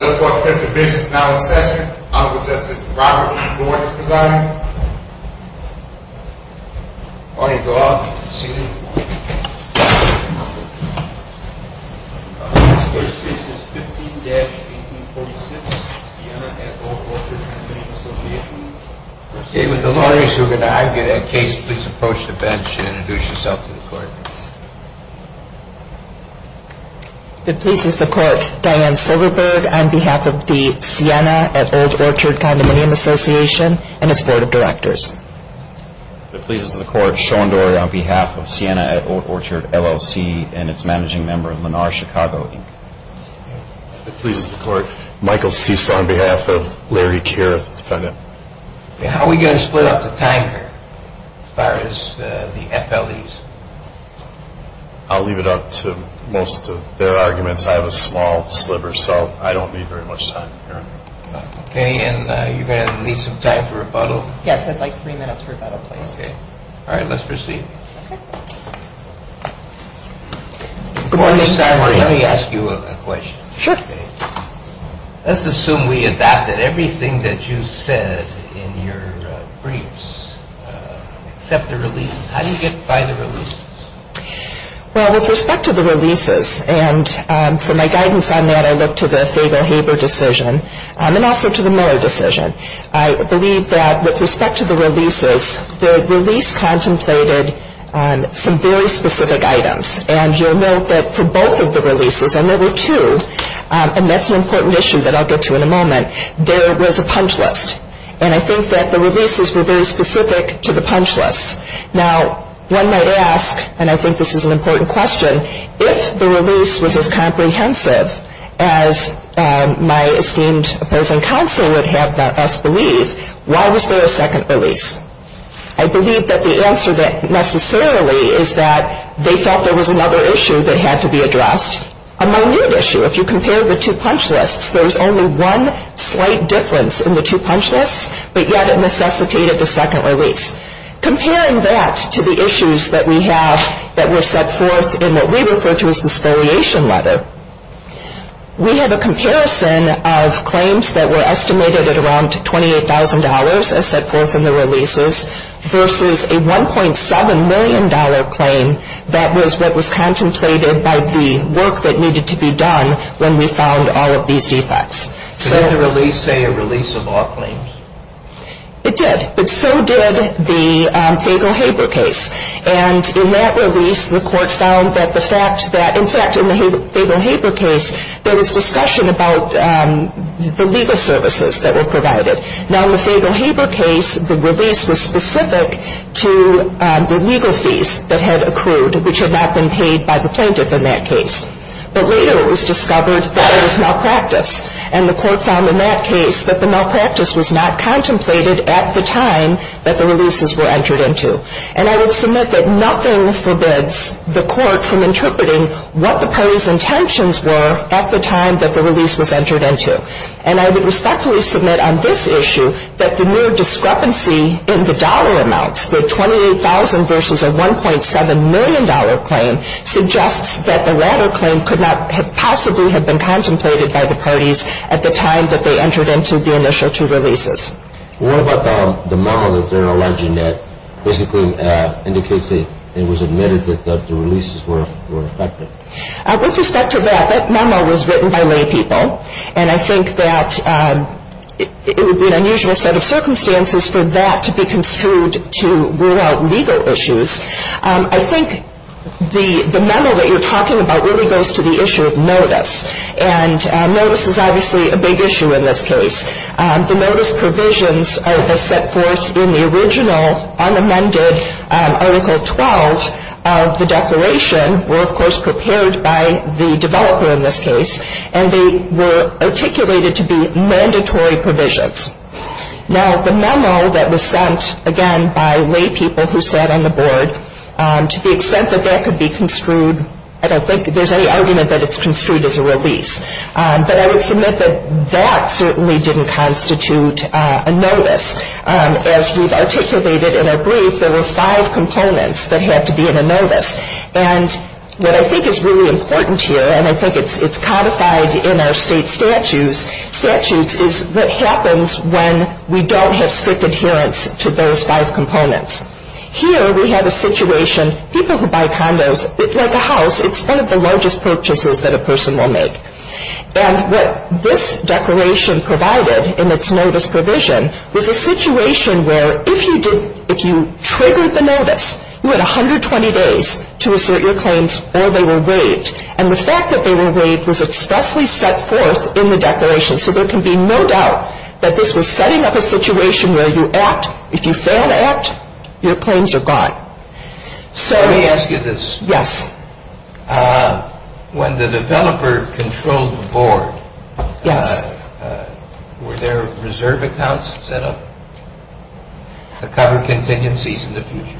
The court's fifth division is now in session. Honorable Justice Robert E. Boyd is presiding. All right, go on. Proceed. The first case is 15-1846, Siena at Old Orchard Condominium Association. David, the lawyers who are going to argue that case, please approach the bench and introduce yourself to the court. It pleases the court Diane Silverberg on behalf of the Siena at Old Orchard Condominium Association and its Board of Directors. It pleases the court Sean Dory on behalf of Siena at Old Orchard, LLC and its managing member, Lenar Chicago, Inc. It pleases the court Michael Cecil on behalf of Larry Kierith, defendant. How are we going to split up the time here, as far as the FLEs? I'll leave it up to most of their arguments. I have a small sliver, so I don't need very much time here. Okay, and you're going to need some time to rebuttal? Yes, I'd like three minutes rebuttal, please. All right, let's proceed. Before you start, let me ask you a question. Sure. Let's assume we adopted everything that you said in your briefs, except the releases. How do you get by the releases? Well, with respect to the releases, and for my guidance on that, I look to the Faber-Haber decision and also to the Miller decision. I believe that with respect to the releases, the release contemplated some very specific items. And you'll note that for both of the releases, and there were two, and that's an important issue that I'll get to in a moment, there was a punch list. And I think that the releases were very specific to the punch lists. Now, one might ask, and I think this is an important question, if the release was as comprehensive as my esteemed opposing counsel would have us believe, why was there a second release? I believe that the answer necessarily is that they felt there was another issue that had to be addressed, a minute issue. If you compare the two punch lists, there was only one slight difference in the two punch lists, but yet it necessitated the second release. Comparing that to the issues that we have that were set forth in what we refer to as the scoliation letter, we have a comparison of claims that were estimated at around $28,000, as set forth in the releases, versus a $1.7 million claim that was what was contemplated by the work that needed to be done when we found all of these defects. Did the release say a release of all claims? It did. But so did the Faber-Haber case. And in that release, the court found that the fact that, in fact, in the Faber-Haber case, there was discussion about the legal services that were provided. Now, in the Faber-Haber case, the release was specific to the legal fees that had accrued, which had not been paid by the plaintiff in that case. But later it was discovered that there was malpractice, and the court found in that case that the malpractice was not contemplated at the time that the releases were entered into. And I would submit that nothing forbids the court from interpreting what the parties' intentions were at the time that the release was entered into. And I would respectfully submit on this issue that the mere discrepancy in the dollar amounts, the $28,000 versus a $1.7 million claim, suggests that the latter claim could not possibly have been contemplated by the parties at the time that they entered into the initial two releases. Well, what about the memo that they're alleging that basically indicates that it was admitted that the releases were effective? With respect to that, that memo was written by laypeople, and I think that it would be an unusual set of circumstances for that to be construed to rule out legal issues. I think the memo that you're talking about really goes to the issue of notice, and notice is obviously a big issue in this case. The notice provisions are the set forth in the original unamended Article 12 of the declaration were, of course, prepared by the developer in this case, and they were articulated to be mandatory provisions. Now, the memo that was sent, again, by laypeople who sat on the board, to the extent that that could be construed, I don't think there's any argument that it's construed as a release. But I would submit that that certainly didn't constitute a notice. As we've articulated in our brief, there were five components that had to be in a notice. And what I think is really important here, and I think it's codified in our state statutes, is what happens when we don't have strict adherence to those five components. Here we have a situation, people who buy condos, like a house, it's one of the largest purchases that a person will make. And what this declaration provided in its notice provision was a situation where if you did, if you triggered the notice, you had 120 days to assert your claims or they were waived. And the fact that they were waived was expressly set forth in the declaration. So there can be no doubt that this was setting up a situation where you act. If you fail to act, your claims are gone. Let me ask you this. Yes. When the developer controlled the board, were there reserve accounts set up to cover contingencies in the future?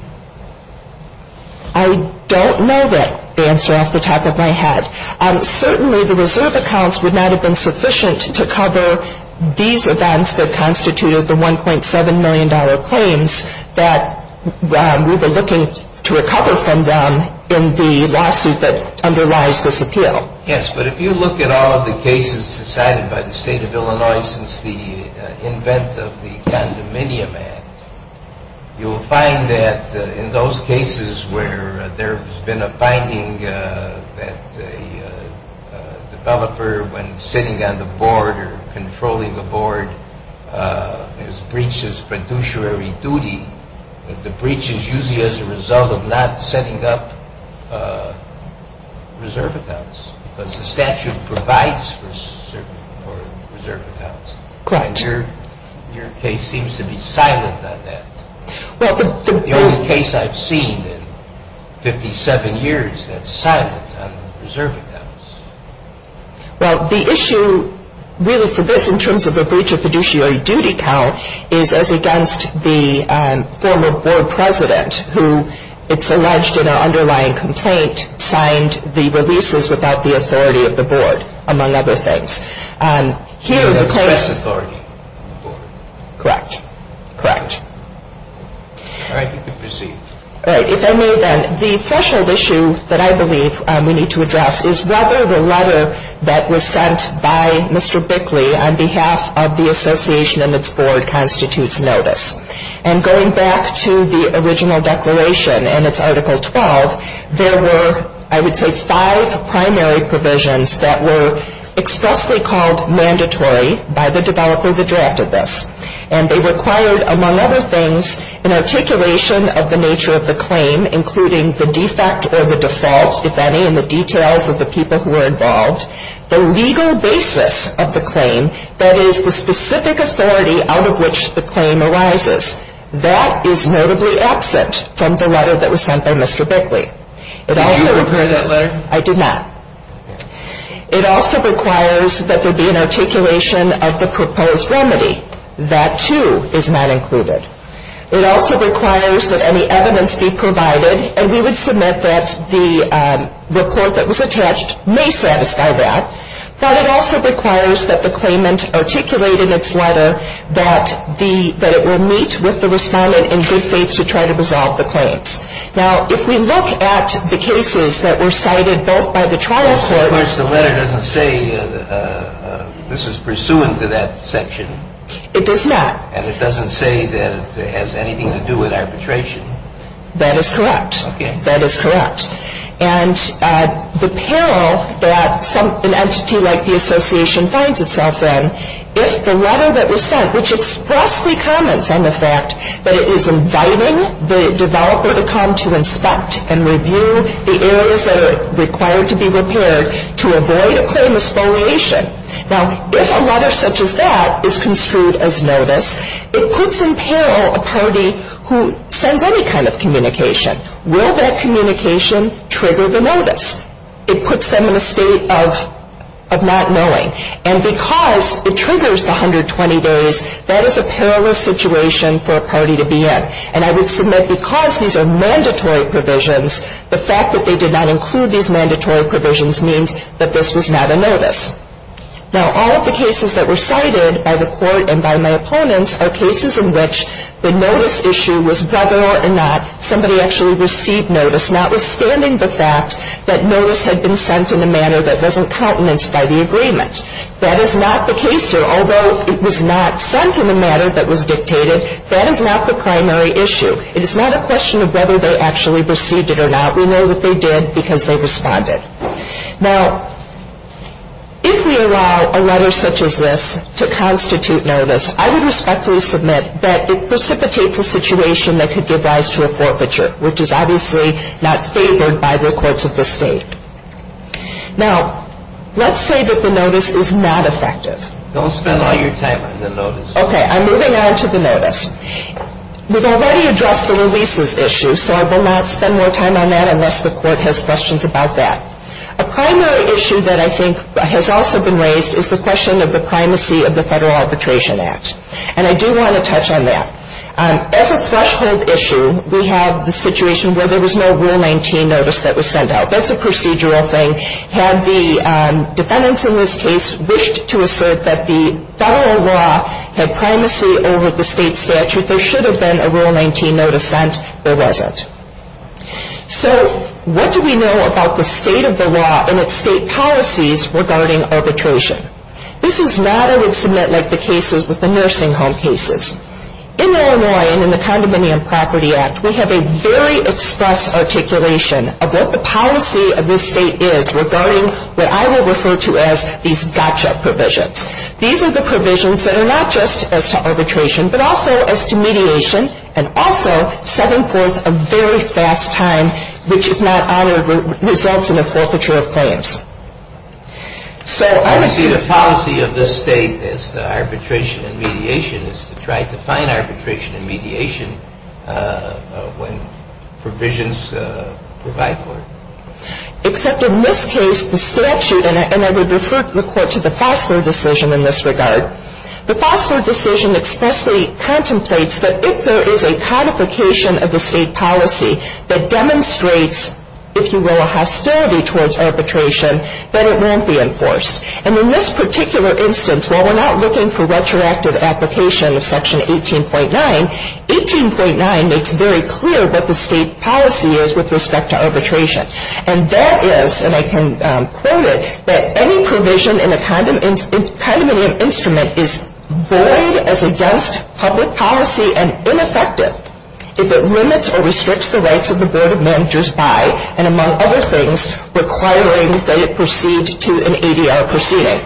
I don't know that answer off the top of my head. Certainly the reserve accounts would not have been sufficient to cover these events that constituted the $1.7 million claims that we were looking to recover from them in the lawsuit that underlies this appeal. Yes, but if you look at all of the cases decided by the state of Illinois since the invent of the Condominium Act, you will find that in those cases where there has been a finding that a developer when sitting on the board or controlling the board has breached his fiduciary duty, that the breach is usually as a result of not setting up reserve accounts because the statute provides for certain reserve accounts. Correct. Your case seems to be silent on that. The only case I've seen in 57 years that's silent on reserve accounts. Well, the issue really for this in terms of a breach of fiduciary duty count is as against the former board president who it's alleged in our underlying complaint signed the releases without the authority of the board, among other things. Here the case... The press authority of the board. Correct, correct. All right, you can proceed. All right, if I may then. The threshold issue that I believe we need to address is whether the letter that was sent by Mr. Bickley on behalf of the association and its board constitutes notice. And going back to the original declaration and its Article 12, there were, I would say, five primary provisions that were expressly called mandatory by the developer that drafted this. And they required, among other things, an articulation of the nature of the claim, including the defect or the default, if any, in the details of the people who were involved, the legal basis of the claim, that is, the specific authority out of which the claim arises. That is notably absent from the letter that was sent by Mr. Bickley. Did you refer to that letter? I did not. It also requires that there be an articulation of the proposed remedy. That, too, is not included. It also requires that any evidence be provided, and we would submit that the report that was attached may satisfy that. But it also requires that the claimant articulate in its letter that the, that it will meet with the respondent in good faith to try to resolve the claims. Now, if we look at the cases that were cited both by the trial court. So, of course, the letter doesn't say this is pursuant to that section. It does not. And it doesn't say that it has anything to do with arbitration. That is correct. Okay. That is correct. And the peril that an entity like the association finds itself in, if the letter that was sent, which expressly comments on the fact that it is inviting the developer to come to inspect and review the areas that are required to be repaired to avoid a claim of spoliation. Now, if a letter such as that is construed as notice, it puts in peril a party who sends any kind of communication. Will that communication trigger the notice? It puts them in a state of not knowing. And because it triggers the 120 days, that is a perilous situation for a party to be in. And I would submit because these are mandatory provisions, the fact that they did not include these mandatory provisions means that this was not a notice. Now, all of the cases that were cited by the court and by my opponents are cases in which the notice issue was whether or not somebody actually received notice, notwithstanding the fact that notice had been sent in a manner that wasn't countenanced by the agreement. That is not the case here. Although it was not sent in a manner that was dictated, that is not the primary issue. It is not a question of whether they actually received it or not. We know that they did because they responded. Now, if we allow a letter such as this to constitute notice, I would respectfully submit that it precipitates a situation that could give rise to a forfeiture, which is obviously not favored by the courts of the state. Now, let's say that the notice is not effective. Don't spend all your time on the notice. Okay. I'm moving on to the notice. We've already addressed the releases issue, so I will not spend more time on that unless the court has questions about that. A primary issue that I think has also been raised is the question of the primacy of the Federal Arbitration Act. And I do want to touch on that. As a threshold issue, we have the situation where there was no Rule 19 notice that was sent out. That's a procedural thing. Had the defendants in this case wished to assert that the federal law had primacy over the state statute, if there should have been a Rule 19 notice sent, there wasn't. So what do we know about the state of the law and its state policies regarding arbitration? This is not, I would submit, like the cases with the nursing home cases. In Illinois and in the Condominium Property Act, we have a very express articulation of what the policy of this state is regarding what I will refer to as these gotcha provisions. These are the provisions that are not just as to arbitration but also as to mediation and also set forth a very fast time which, if not honored, results in a forfeiture of claims. So I would see the policy of this state as arbitration and mediation is to try to find arbitration and mediation when provisions provide for it. Except in this case, the statute, and I would refer the Court to the Fosler decision in this regard. The Fosler decision expressly contemplates that if there is a codification of the state policy that demonstrates, if you will, a hostility towards arbitration, that it won't be enforced. And in this particular instance, while we're not looking for retroactive application of Section 18.9, 18.9 makes very clear what the state policy is with respect to arbitration. And that is, and I can quote it, that any provision in a condominium instrument is void as against public policy and ineffective if it limits or restricts the rights of the Board of Managers by, and among other things, requiring that it proceed to an ADR proceeding.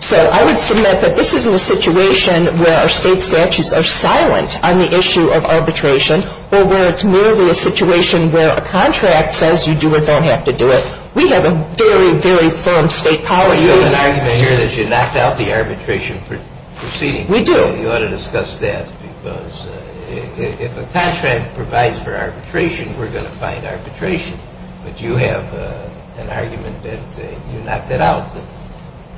So I would submit that this isn't a situation where our state statutes are silent on the issue of arbitration or where it's merely a situation where a contract says you do or don't have to do it. We have a very, very firm state policy. But you have an argument here that you knocked out the arbitration proceeding. We do. You ought to discuss that, because if a contract provides for arbitration, we're going to find arbitration. But you have an argument that you knocked it out.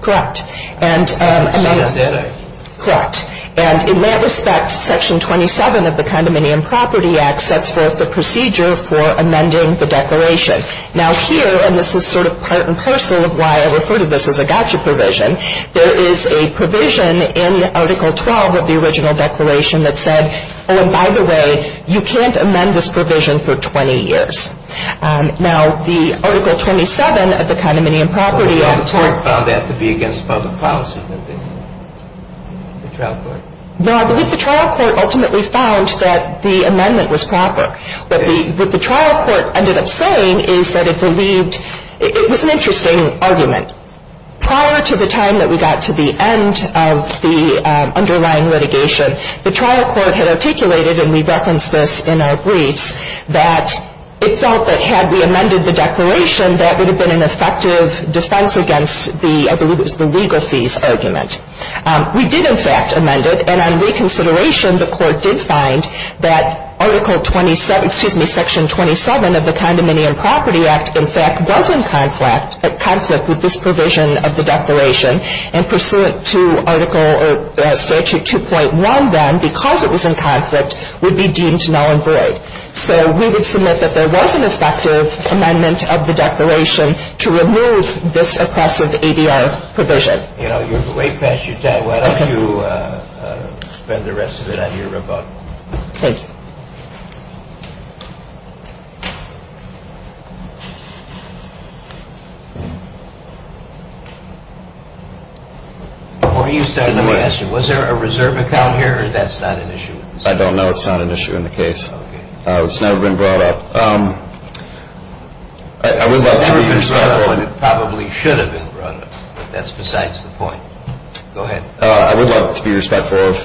Correct. And I mean, correct. And in that respect, Section 27 of the Condominium Property Act sets forth the procedure for amending the declaration. Now, here, and this is sort of part and parcel of why I refer to this as a gotcha provision, there is a provision in Article 12 of the original declaration that said, oh, and by the way, you can't amend this provision for 20 years. Now, the Article 27 of the Condominium Property Act. The trial court found that to be against public policy, the trial court. Well, I believe the trial court ultimately found that the amendment was proper. What the trial court ended up saying is that it believed it was an interesting argument. Prior to the time that we got to the end of the underlying litigation, the trial court had articulated, and we referenced this in our briefs, that it felt that had we amended the declaration, that would have been an effective defense against the, I believe it was the legal fees argument. We did, in fact, amend it. And on reconsideration, the court did find that Article 27, excuse me, Section 27 of the Condominium Property Act, in fact, was in conflict with this provision of the declaration, and pursuant to Article or Statute 2.1 then, because it was in conflict, would be deemed null and void. So we would submit that there was an effective amendment of the declaration to remove this oppressive ADR provision. You know, you're way past your time. Why don't you spend the rest of it on your remote? Thank you. Before you start, let me ask you, was there a reserve account here, or that's not an issue? I don't know. It's not an issue in the case. Okay. It's never been brought up. I would like to be respectful. It probably should have been brought up, but that's besides the point. Go ahead. I would like to be respectful of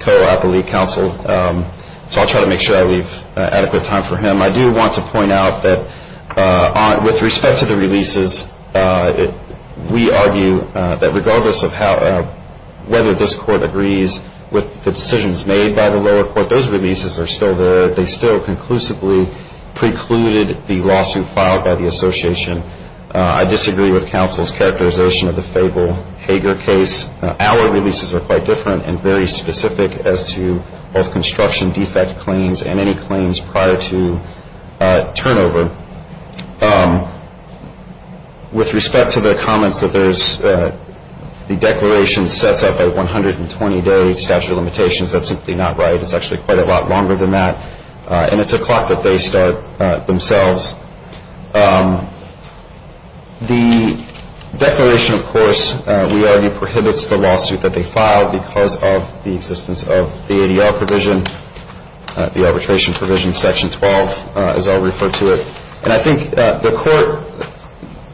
Coe out the lead counsel, so I'll try to make sure I leave adequate time for him. I do want to point out that with respect to the releases, we argue that regardless of whether this court agrees with the decisions made by the lower court, those releases are still there. They still conclusively precluded the lawsuit filed by the association. I disagree with counsel's characterization of the Fable-Hager case. Our releases are quite different and very specific as to both construction defect claims and any claims prior to turnover. With respect to the comments that the declaration sets up a 120-day statute of limitations, that's simply not right. It's actually quite a lot longer than that, and it's a clock that they start themselves. The declaration, of course, we argue prohibits the lawsuit that they filed because of the existence of the ADR provision, the arbitration provision, Section 12, as I'll refer to it. And I think the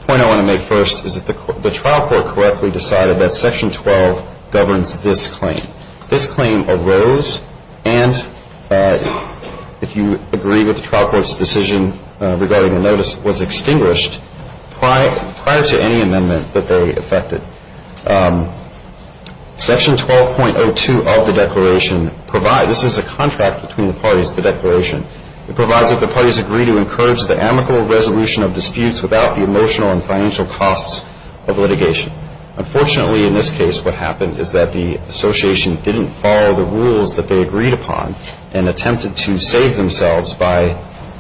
point I want to make first is that the trial court correctly decided that Section 12 governs this claim. This claim arose and, if you agree with the trial court's decision regarding the notice, was extinguished prior to any amendment that they effected. Section 12.02 of the declaration provides, this is a contract between the parties, the declaration. It provides that the parties agree to encourage the amicable resolution of disputes without the emotional and financial costs of litigation. Unfortunately, in this case, what happened is that the association didn't follow the rules that they agreed upon and attempted to save themselves by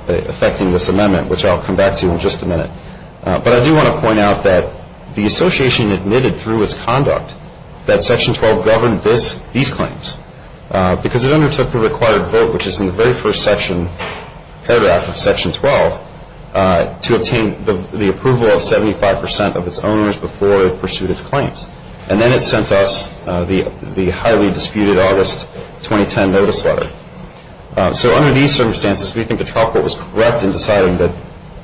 effecting this amendment, which I'll come back to in just a minute. But I do want to point out that the association admitted through its conduct that Section 12 governed these claims because it undertook the required vote, which is in the very first paragraph of Section 12, to obtain the approval of 75 percent of its owners before it pursued its claims. And then it sent us the highly disputed August 2010 notice letter. So under these circumstances, we think the trial court was correct in deciding that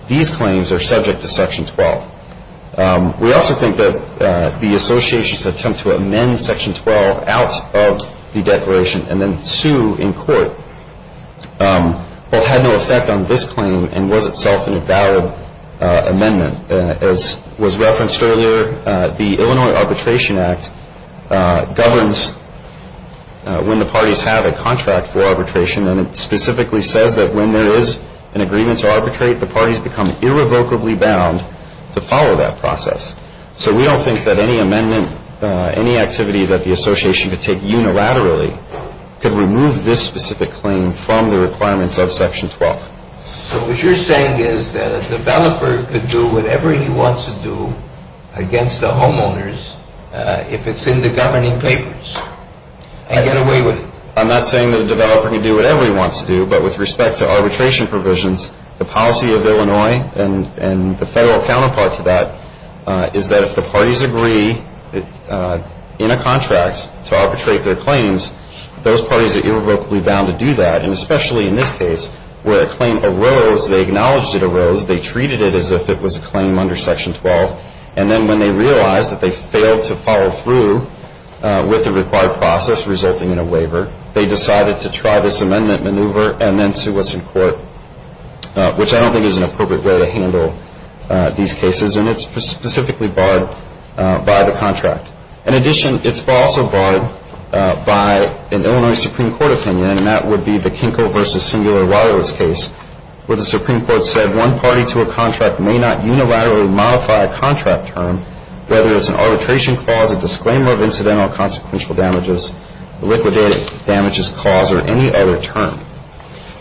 these claims are subject to Section 12. We also think that the association's attempt to amend Section 12 out of the declaration and then sue in court both had no effect on this claim and was itself an invalid amendment. As was referenced earlier, the Illinois Arbitration Act governs when the parties have a contract for arbitration, and it specifically says that when there is an agreement to arbitrate, the parties become irrevocably bound to follow that process. So we don't think that any amendment, any activity that the association could take unilaterally, could remove this specific claim from the requirements of Section 12. So what you're saying is that a developer could do whatever he wants to do against the homeowners if it's in the governing papers and get away with it. I'm not saying that a developer can do whatever he wants to do, but with respect to arbitration provisions, the policy of Illinois and the federal counterpart to that is that if the parties agree in a contract to arbitrate their claims, those parties are irrevocably bound to do that, and especially in this case where a claim arose, they acknowledged it arose, they treated it as if it was a claim under Section 12, and then when they realized that they failed to follow through with the required process resulting in a waiver, they decided to try this amendment maneuver and then sue us in court, which I don't think is an appropriate way to handle these cases, and it's specifically barred by the contract. In addition, it's also barred by an Illinois Supreme Court opinion, and that would be the Kinkle versus Singular Wireless case where the Supreme Court said one party to a contract may not unilaterally modify a contract term, whether it's an arbitration clause, a disclaimer of incidental or consequential damages, liquidated damages clause, or any other term.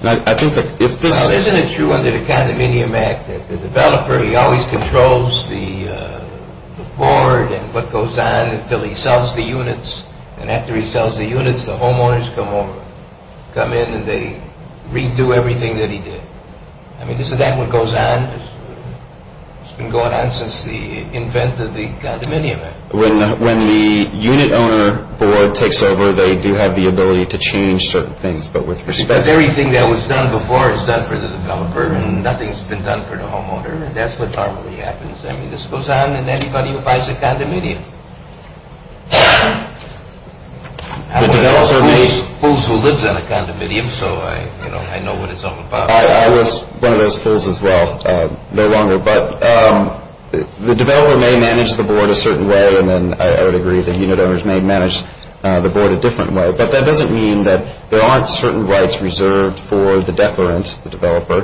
Now, isn't it true under the Condominium Act that the developer, he always controls the board and what goes on until he sells the units, and after he sells the units, the homeowners come over, come in and they redo everything that he did? I mean, is that what goes on? It's been going on since the invent of the Condominium Act. When the unit owner board takes over, they do have the ability to change certain things, but with respect to – Because everything that was done before is done for the developer, and nothing's been done for the homeowner, and that's what normally happens. I mean, this goes on in anybody who buys a condominium. I'm one of those fools who lives on a condominium, so I know what it's all about. I was one of those fools as well, no longer, but the developer may manage the board a certain way, and then I would agree the unit owners may manage the board a different way, but that doesn't mean that there aren't certain rights reserved for the declarant, the developer,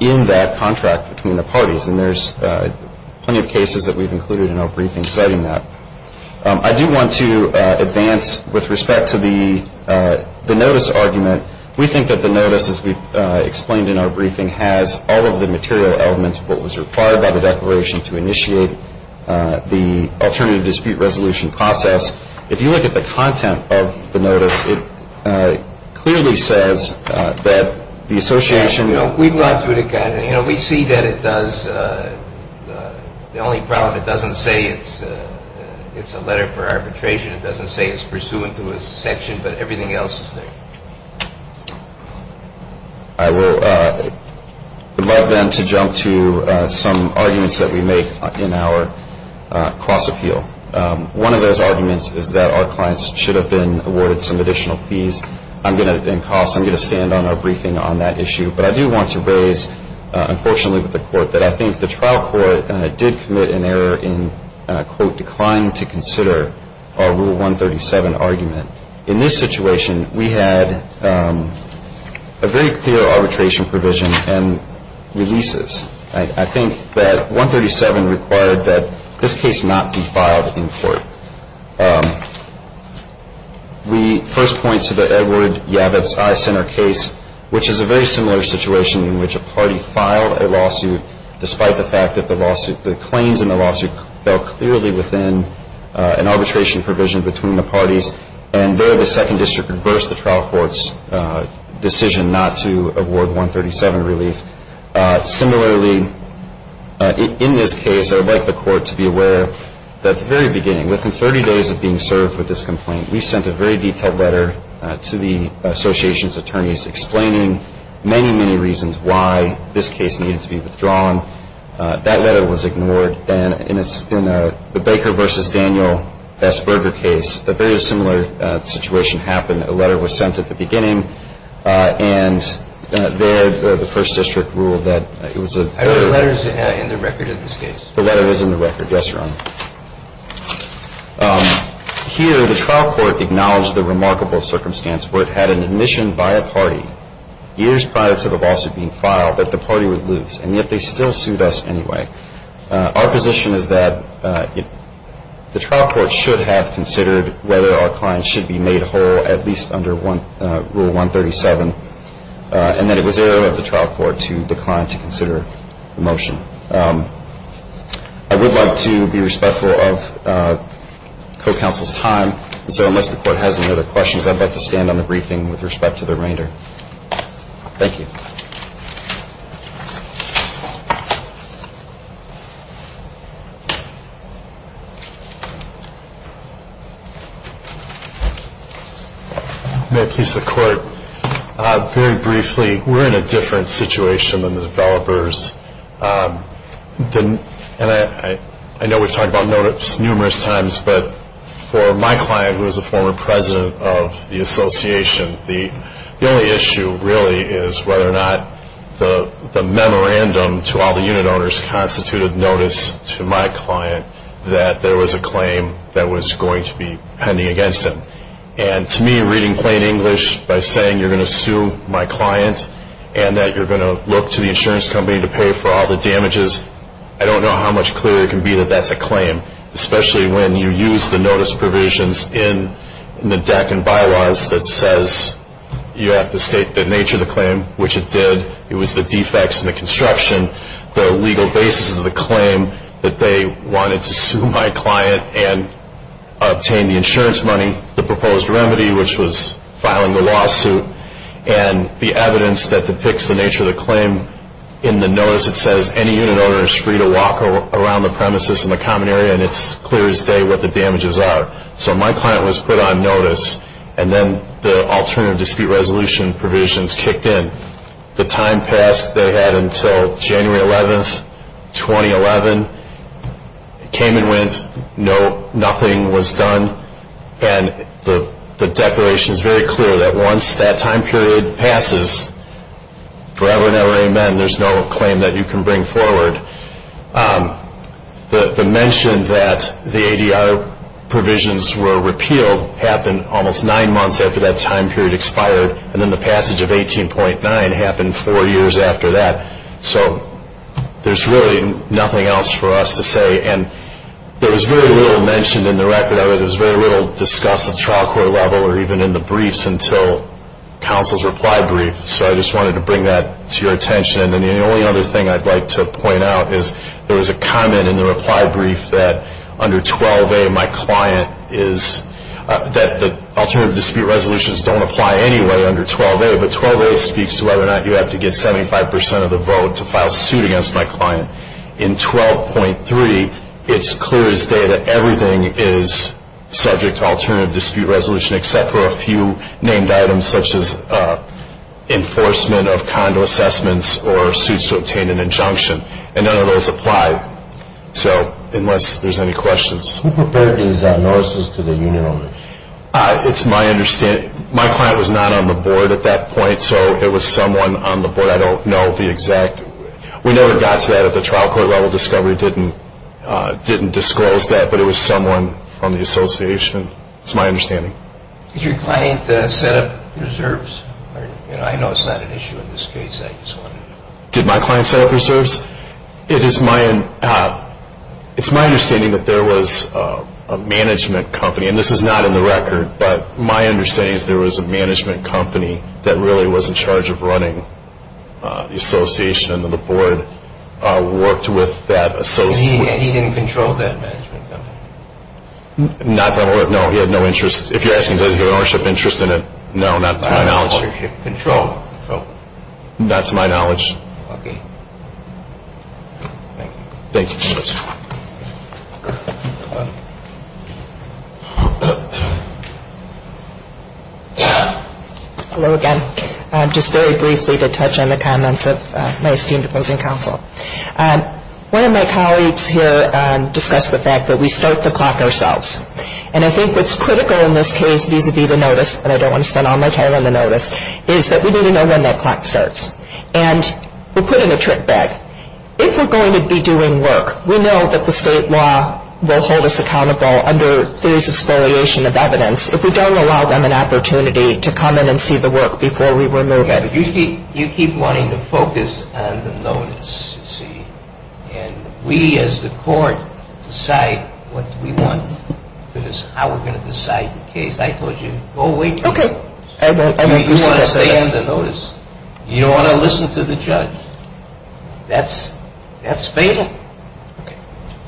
in that contract between the parties, and there's plenty of cases that we've included in our briefing citing that. I do want to advance with respect to the notice argument. We think that the notice, as we've explained in our briefing, has all of the material elements of what was required by the declaration to initiate the alternative dispute resolution process. If you look at the content of the notice, it clearly says that the association- You know, we see that it does the only problem. It doesn't say it's a letter for arbitration. It doesn't say it's pursuant to a section, but everything else is there. I would love, then, to jump to some arguments that we make in our cross-appeal. One of those arguments is that our clients should have been awarded some additional fees and costs. I'm going to stand on our briefing on that issue, but I do want to raise, unfortunately with the Court, that I think the trial court did commit an error in, quote, declining to consider our Rule 137 argument. In this situation, we had a very clear arbitration provision and releases. I think that 137 required that this case not be filed in court. We first point to the Edward Yabbitt's Eye Center case, which is a very similar situation in which a party filed a lawsuit, despite the fact that the claims in the lawsuit fell clearly within an arbitration provision between the parties, and there the Second District reversed the trial court's decision not to award 137 relief. Similarly, in this case, I would like the Court to be aware that at the very beginning, within 30 days of being served with this complaint, we sent a very detailed letter to the association's attorneys explaining many, many reasons why this case needed to be withdrawn. That letter was ignored. In the Baker v. Daniel S. Berger case, a very similar situation happened. A letter was sent at the beginning, and there the First District ruled that it was a error. I believe the letter is in the record of this case. The letter is in the record. Yes, Your Honor. Here, the trial court acknowledged the remarkable circumstance where it had an admission by a party years prior to the lawsuit being filed that the party would lose, and yet they still sued us anyway. Our position is that the trial court should have considered whether our client should be made whole at least under Rule 137, and that it was error of the trial court to decline to consider the motion. I would like to be respectful of co-counsel's time, so unless the Court has any other questions, I'd like to stand on the briefing with respect to the remainder. Thank you. May it please the Court. Very briefly, we're in a different situation than the developers, and I know we've talked about this numerous times, but for my client, who is a former president of the association, the only issue really is whether or not the memorandum to all the unit owners constituted notice to my client that there was a claim that was going to be pending against him. And to me, reading plain English by saying you're going to sue my client and that you're going to look to the insurance company to pay for all the damages, I don't know how much clearer it can be that that's a claim, especially when you use the notice provisions in the deck and bylaws that says you have to state the nature of the claim, which it did, it was the defects in the construction, the legal basis of the claim that they wanted to sue my client and obtain the insurance money, the proposed remedy, which was filing the lawsuit, and the evidence that depicts the nature of the claim. In the notice, it says any unit owner is free to walk around the premises in the common area and it's clear as day what the damages are. So my client was put on notice, and then the alternative dispute resolution provisions kicked in. The time passed they had until January 11, 2011, came and went, nothing was done, and the declaration is very clear that once that time period passes, forever and ever, amen, there's no claim that you can bring forward. The mention that the ADR provisions were repealed happened almost nine months after that time period expired, and then the passage of 18.9 happened four years after that. So there's really nothing else for us to say, and there was very little mentioned in the record of it, there was very little discussed at the trial court level or even in the briefs until counsel's reply brief, so I just wanted to bring that to your attention. And the only other thing I'd like to point out is there was a comment in the reply brief that under 12a, my client is, that the alternative dispute resolutions don't apply anyway under 12a, but 12a speaks to whether or not you have to get 75% of the vote to file suit against my client. In 12.3, it's clear as day that everything is subject to alternative dispute resolution except for a few named items such as enforcement of condo assessments or suits to obtain an injunction, and none of those apply, so unless there's any questions. Who prepared these notices to the union owner? It's my understanding, my client was not on the board at that point, so it was someone on the board, I don't know the exact, we never got to that at the trial court level, discovery didn't disclose that, but it was someone from the association, it's my understanding. Did your client set up reserves? I know it's not an issue in this case. Did my client set up reserves? It's my understanding that there was a management company, and this is not in the record, but my understanding is there was a management company that really was in charge of running the association, and the board worked with that association. And he didn't control that management company? Not that I'm aware of, no, he had no interest, if you're asking does he have an ownership interest in it, no, not to my knowledge. Ownership control? Not to my knowledge. Okay, thank you. Thank you. Hello again. Just very briefly to touch on the comments of my esteemed opposing counsel. One of my colleagues here discussed the fact that we start the clock ourselves, and I think what's critical in this case vis-a-vis the notice, and I don't want to spend all my time on the notice, is that we need to know when that clock starts. And we're put in a trick bag. If we're going to be doing work, we know that the state law will hold us accountable under theories of spoliation of evidence if we don't allow them an opportunity to come in and see the work before we remove it. You keep wanting to focus on the notice, you see, and we as the court decide what we want to decide, how we're going to decide the case. I told you, go away from the notice. You want to stay on the notice. You don't want to listen to the judge. That's fatal.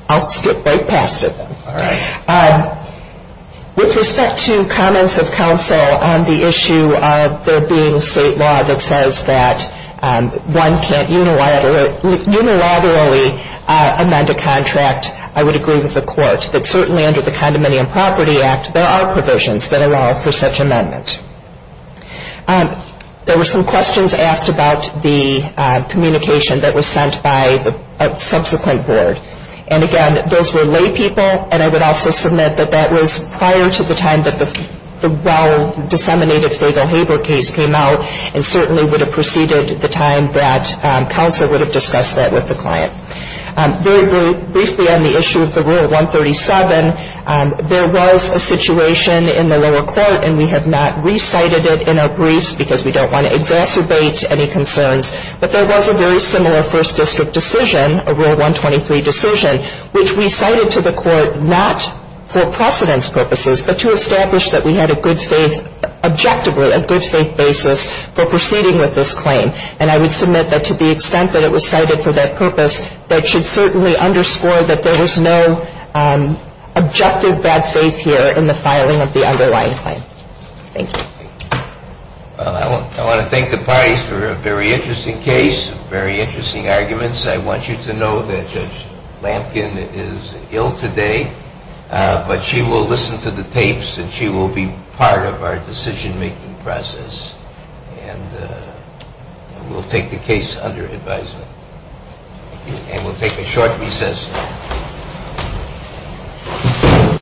I'll skip right past it then. All right. With respect to comments of counsel on the issue of there being state law that says that one can't unilaterally amend a contract, I would agree with the court that certainly under the Condominium Property Act, there are provisions that allow for such amendment. There were some questions asked about the communication that was sent by the subsequent board. And, again, those were laypeople, and I would also submit that that was prior to the time that the well-disseminated Fagel-Haber case came out and certainly would have preceded the time that counsel would have discussed that with the client. Very briefly on the issue of the Rule 137, there was a situation in the lower court, and we have not recited it in our briefs because we don't want to exacerbate any concerns, but there was a very similar first district decision, a Rule 123 decision, which we cited to the court not for precedence purposes, but to establish that we had a good faith, objectively, a good faith basis for proceeding with this claim. And I would submit that to the extent that it was cited for that purpose, that should certainly underscore that there was no objective bad faith here in the filing of the underlying claim. Thank you. Well, I want to thank the parties for a very interesting case, very interesting arguments. I want you to know that Judge Lampkin is ill today, but she will listen to the tapes and she will be part of our decision-making process. And we'll take the case under advisement. Thank you. And we'll take a short recess.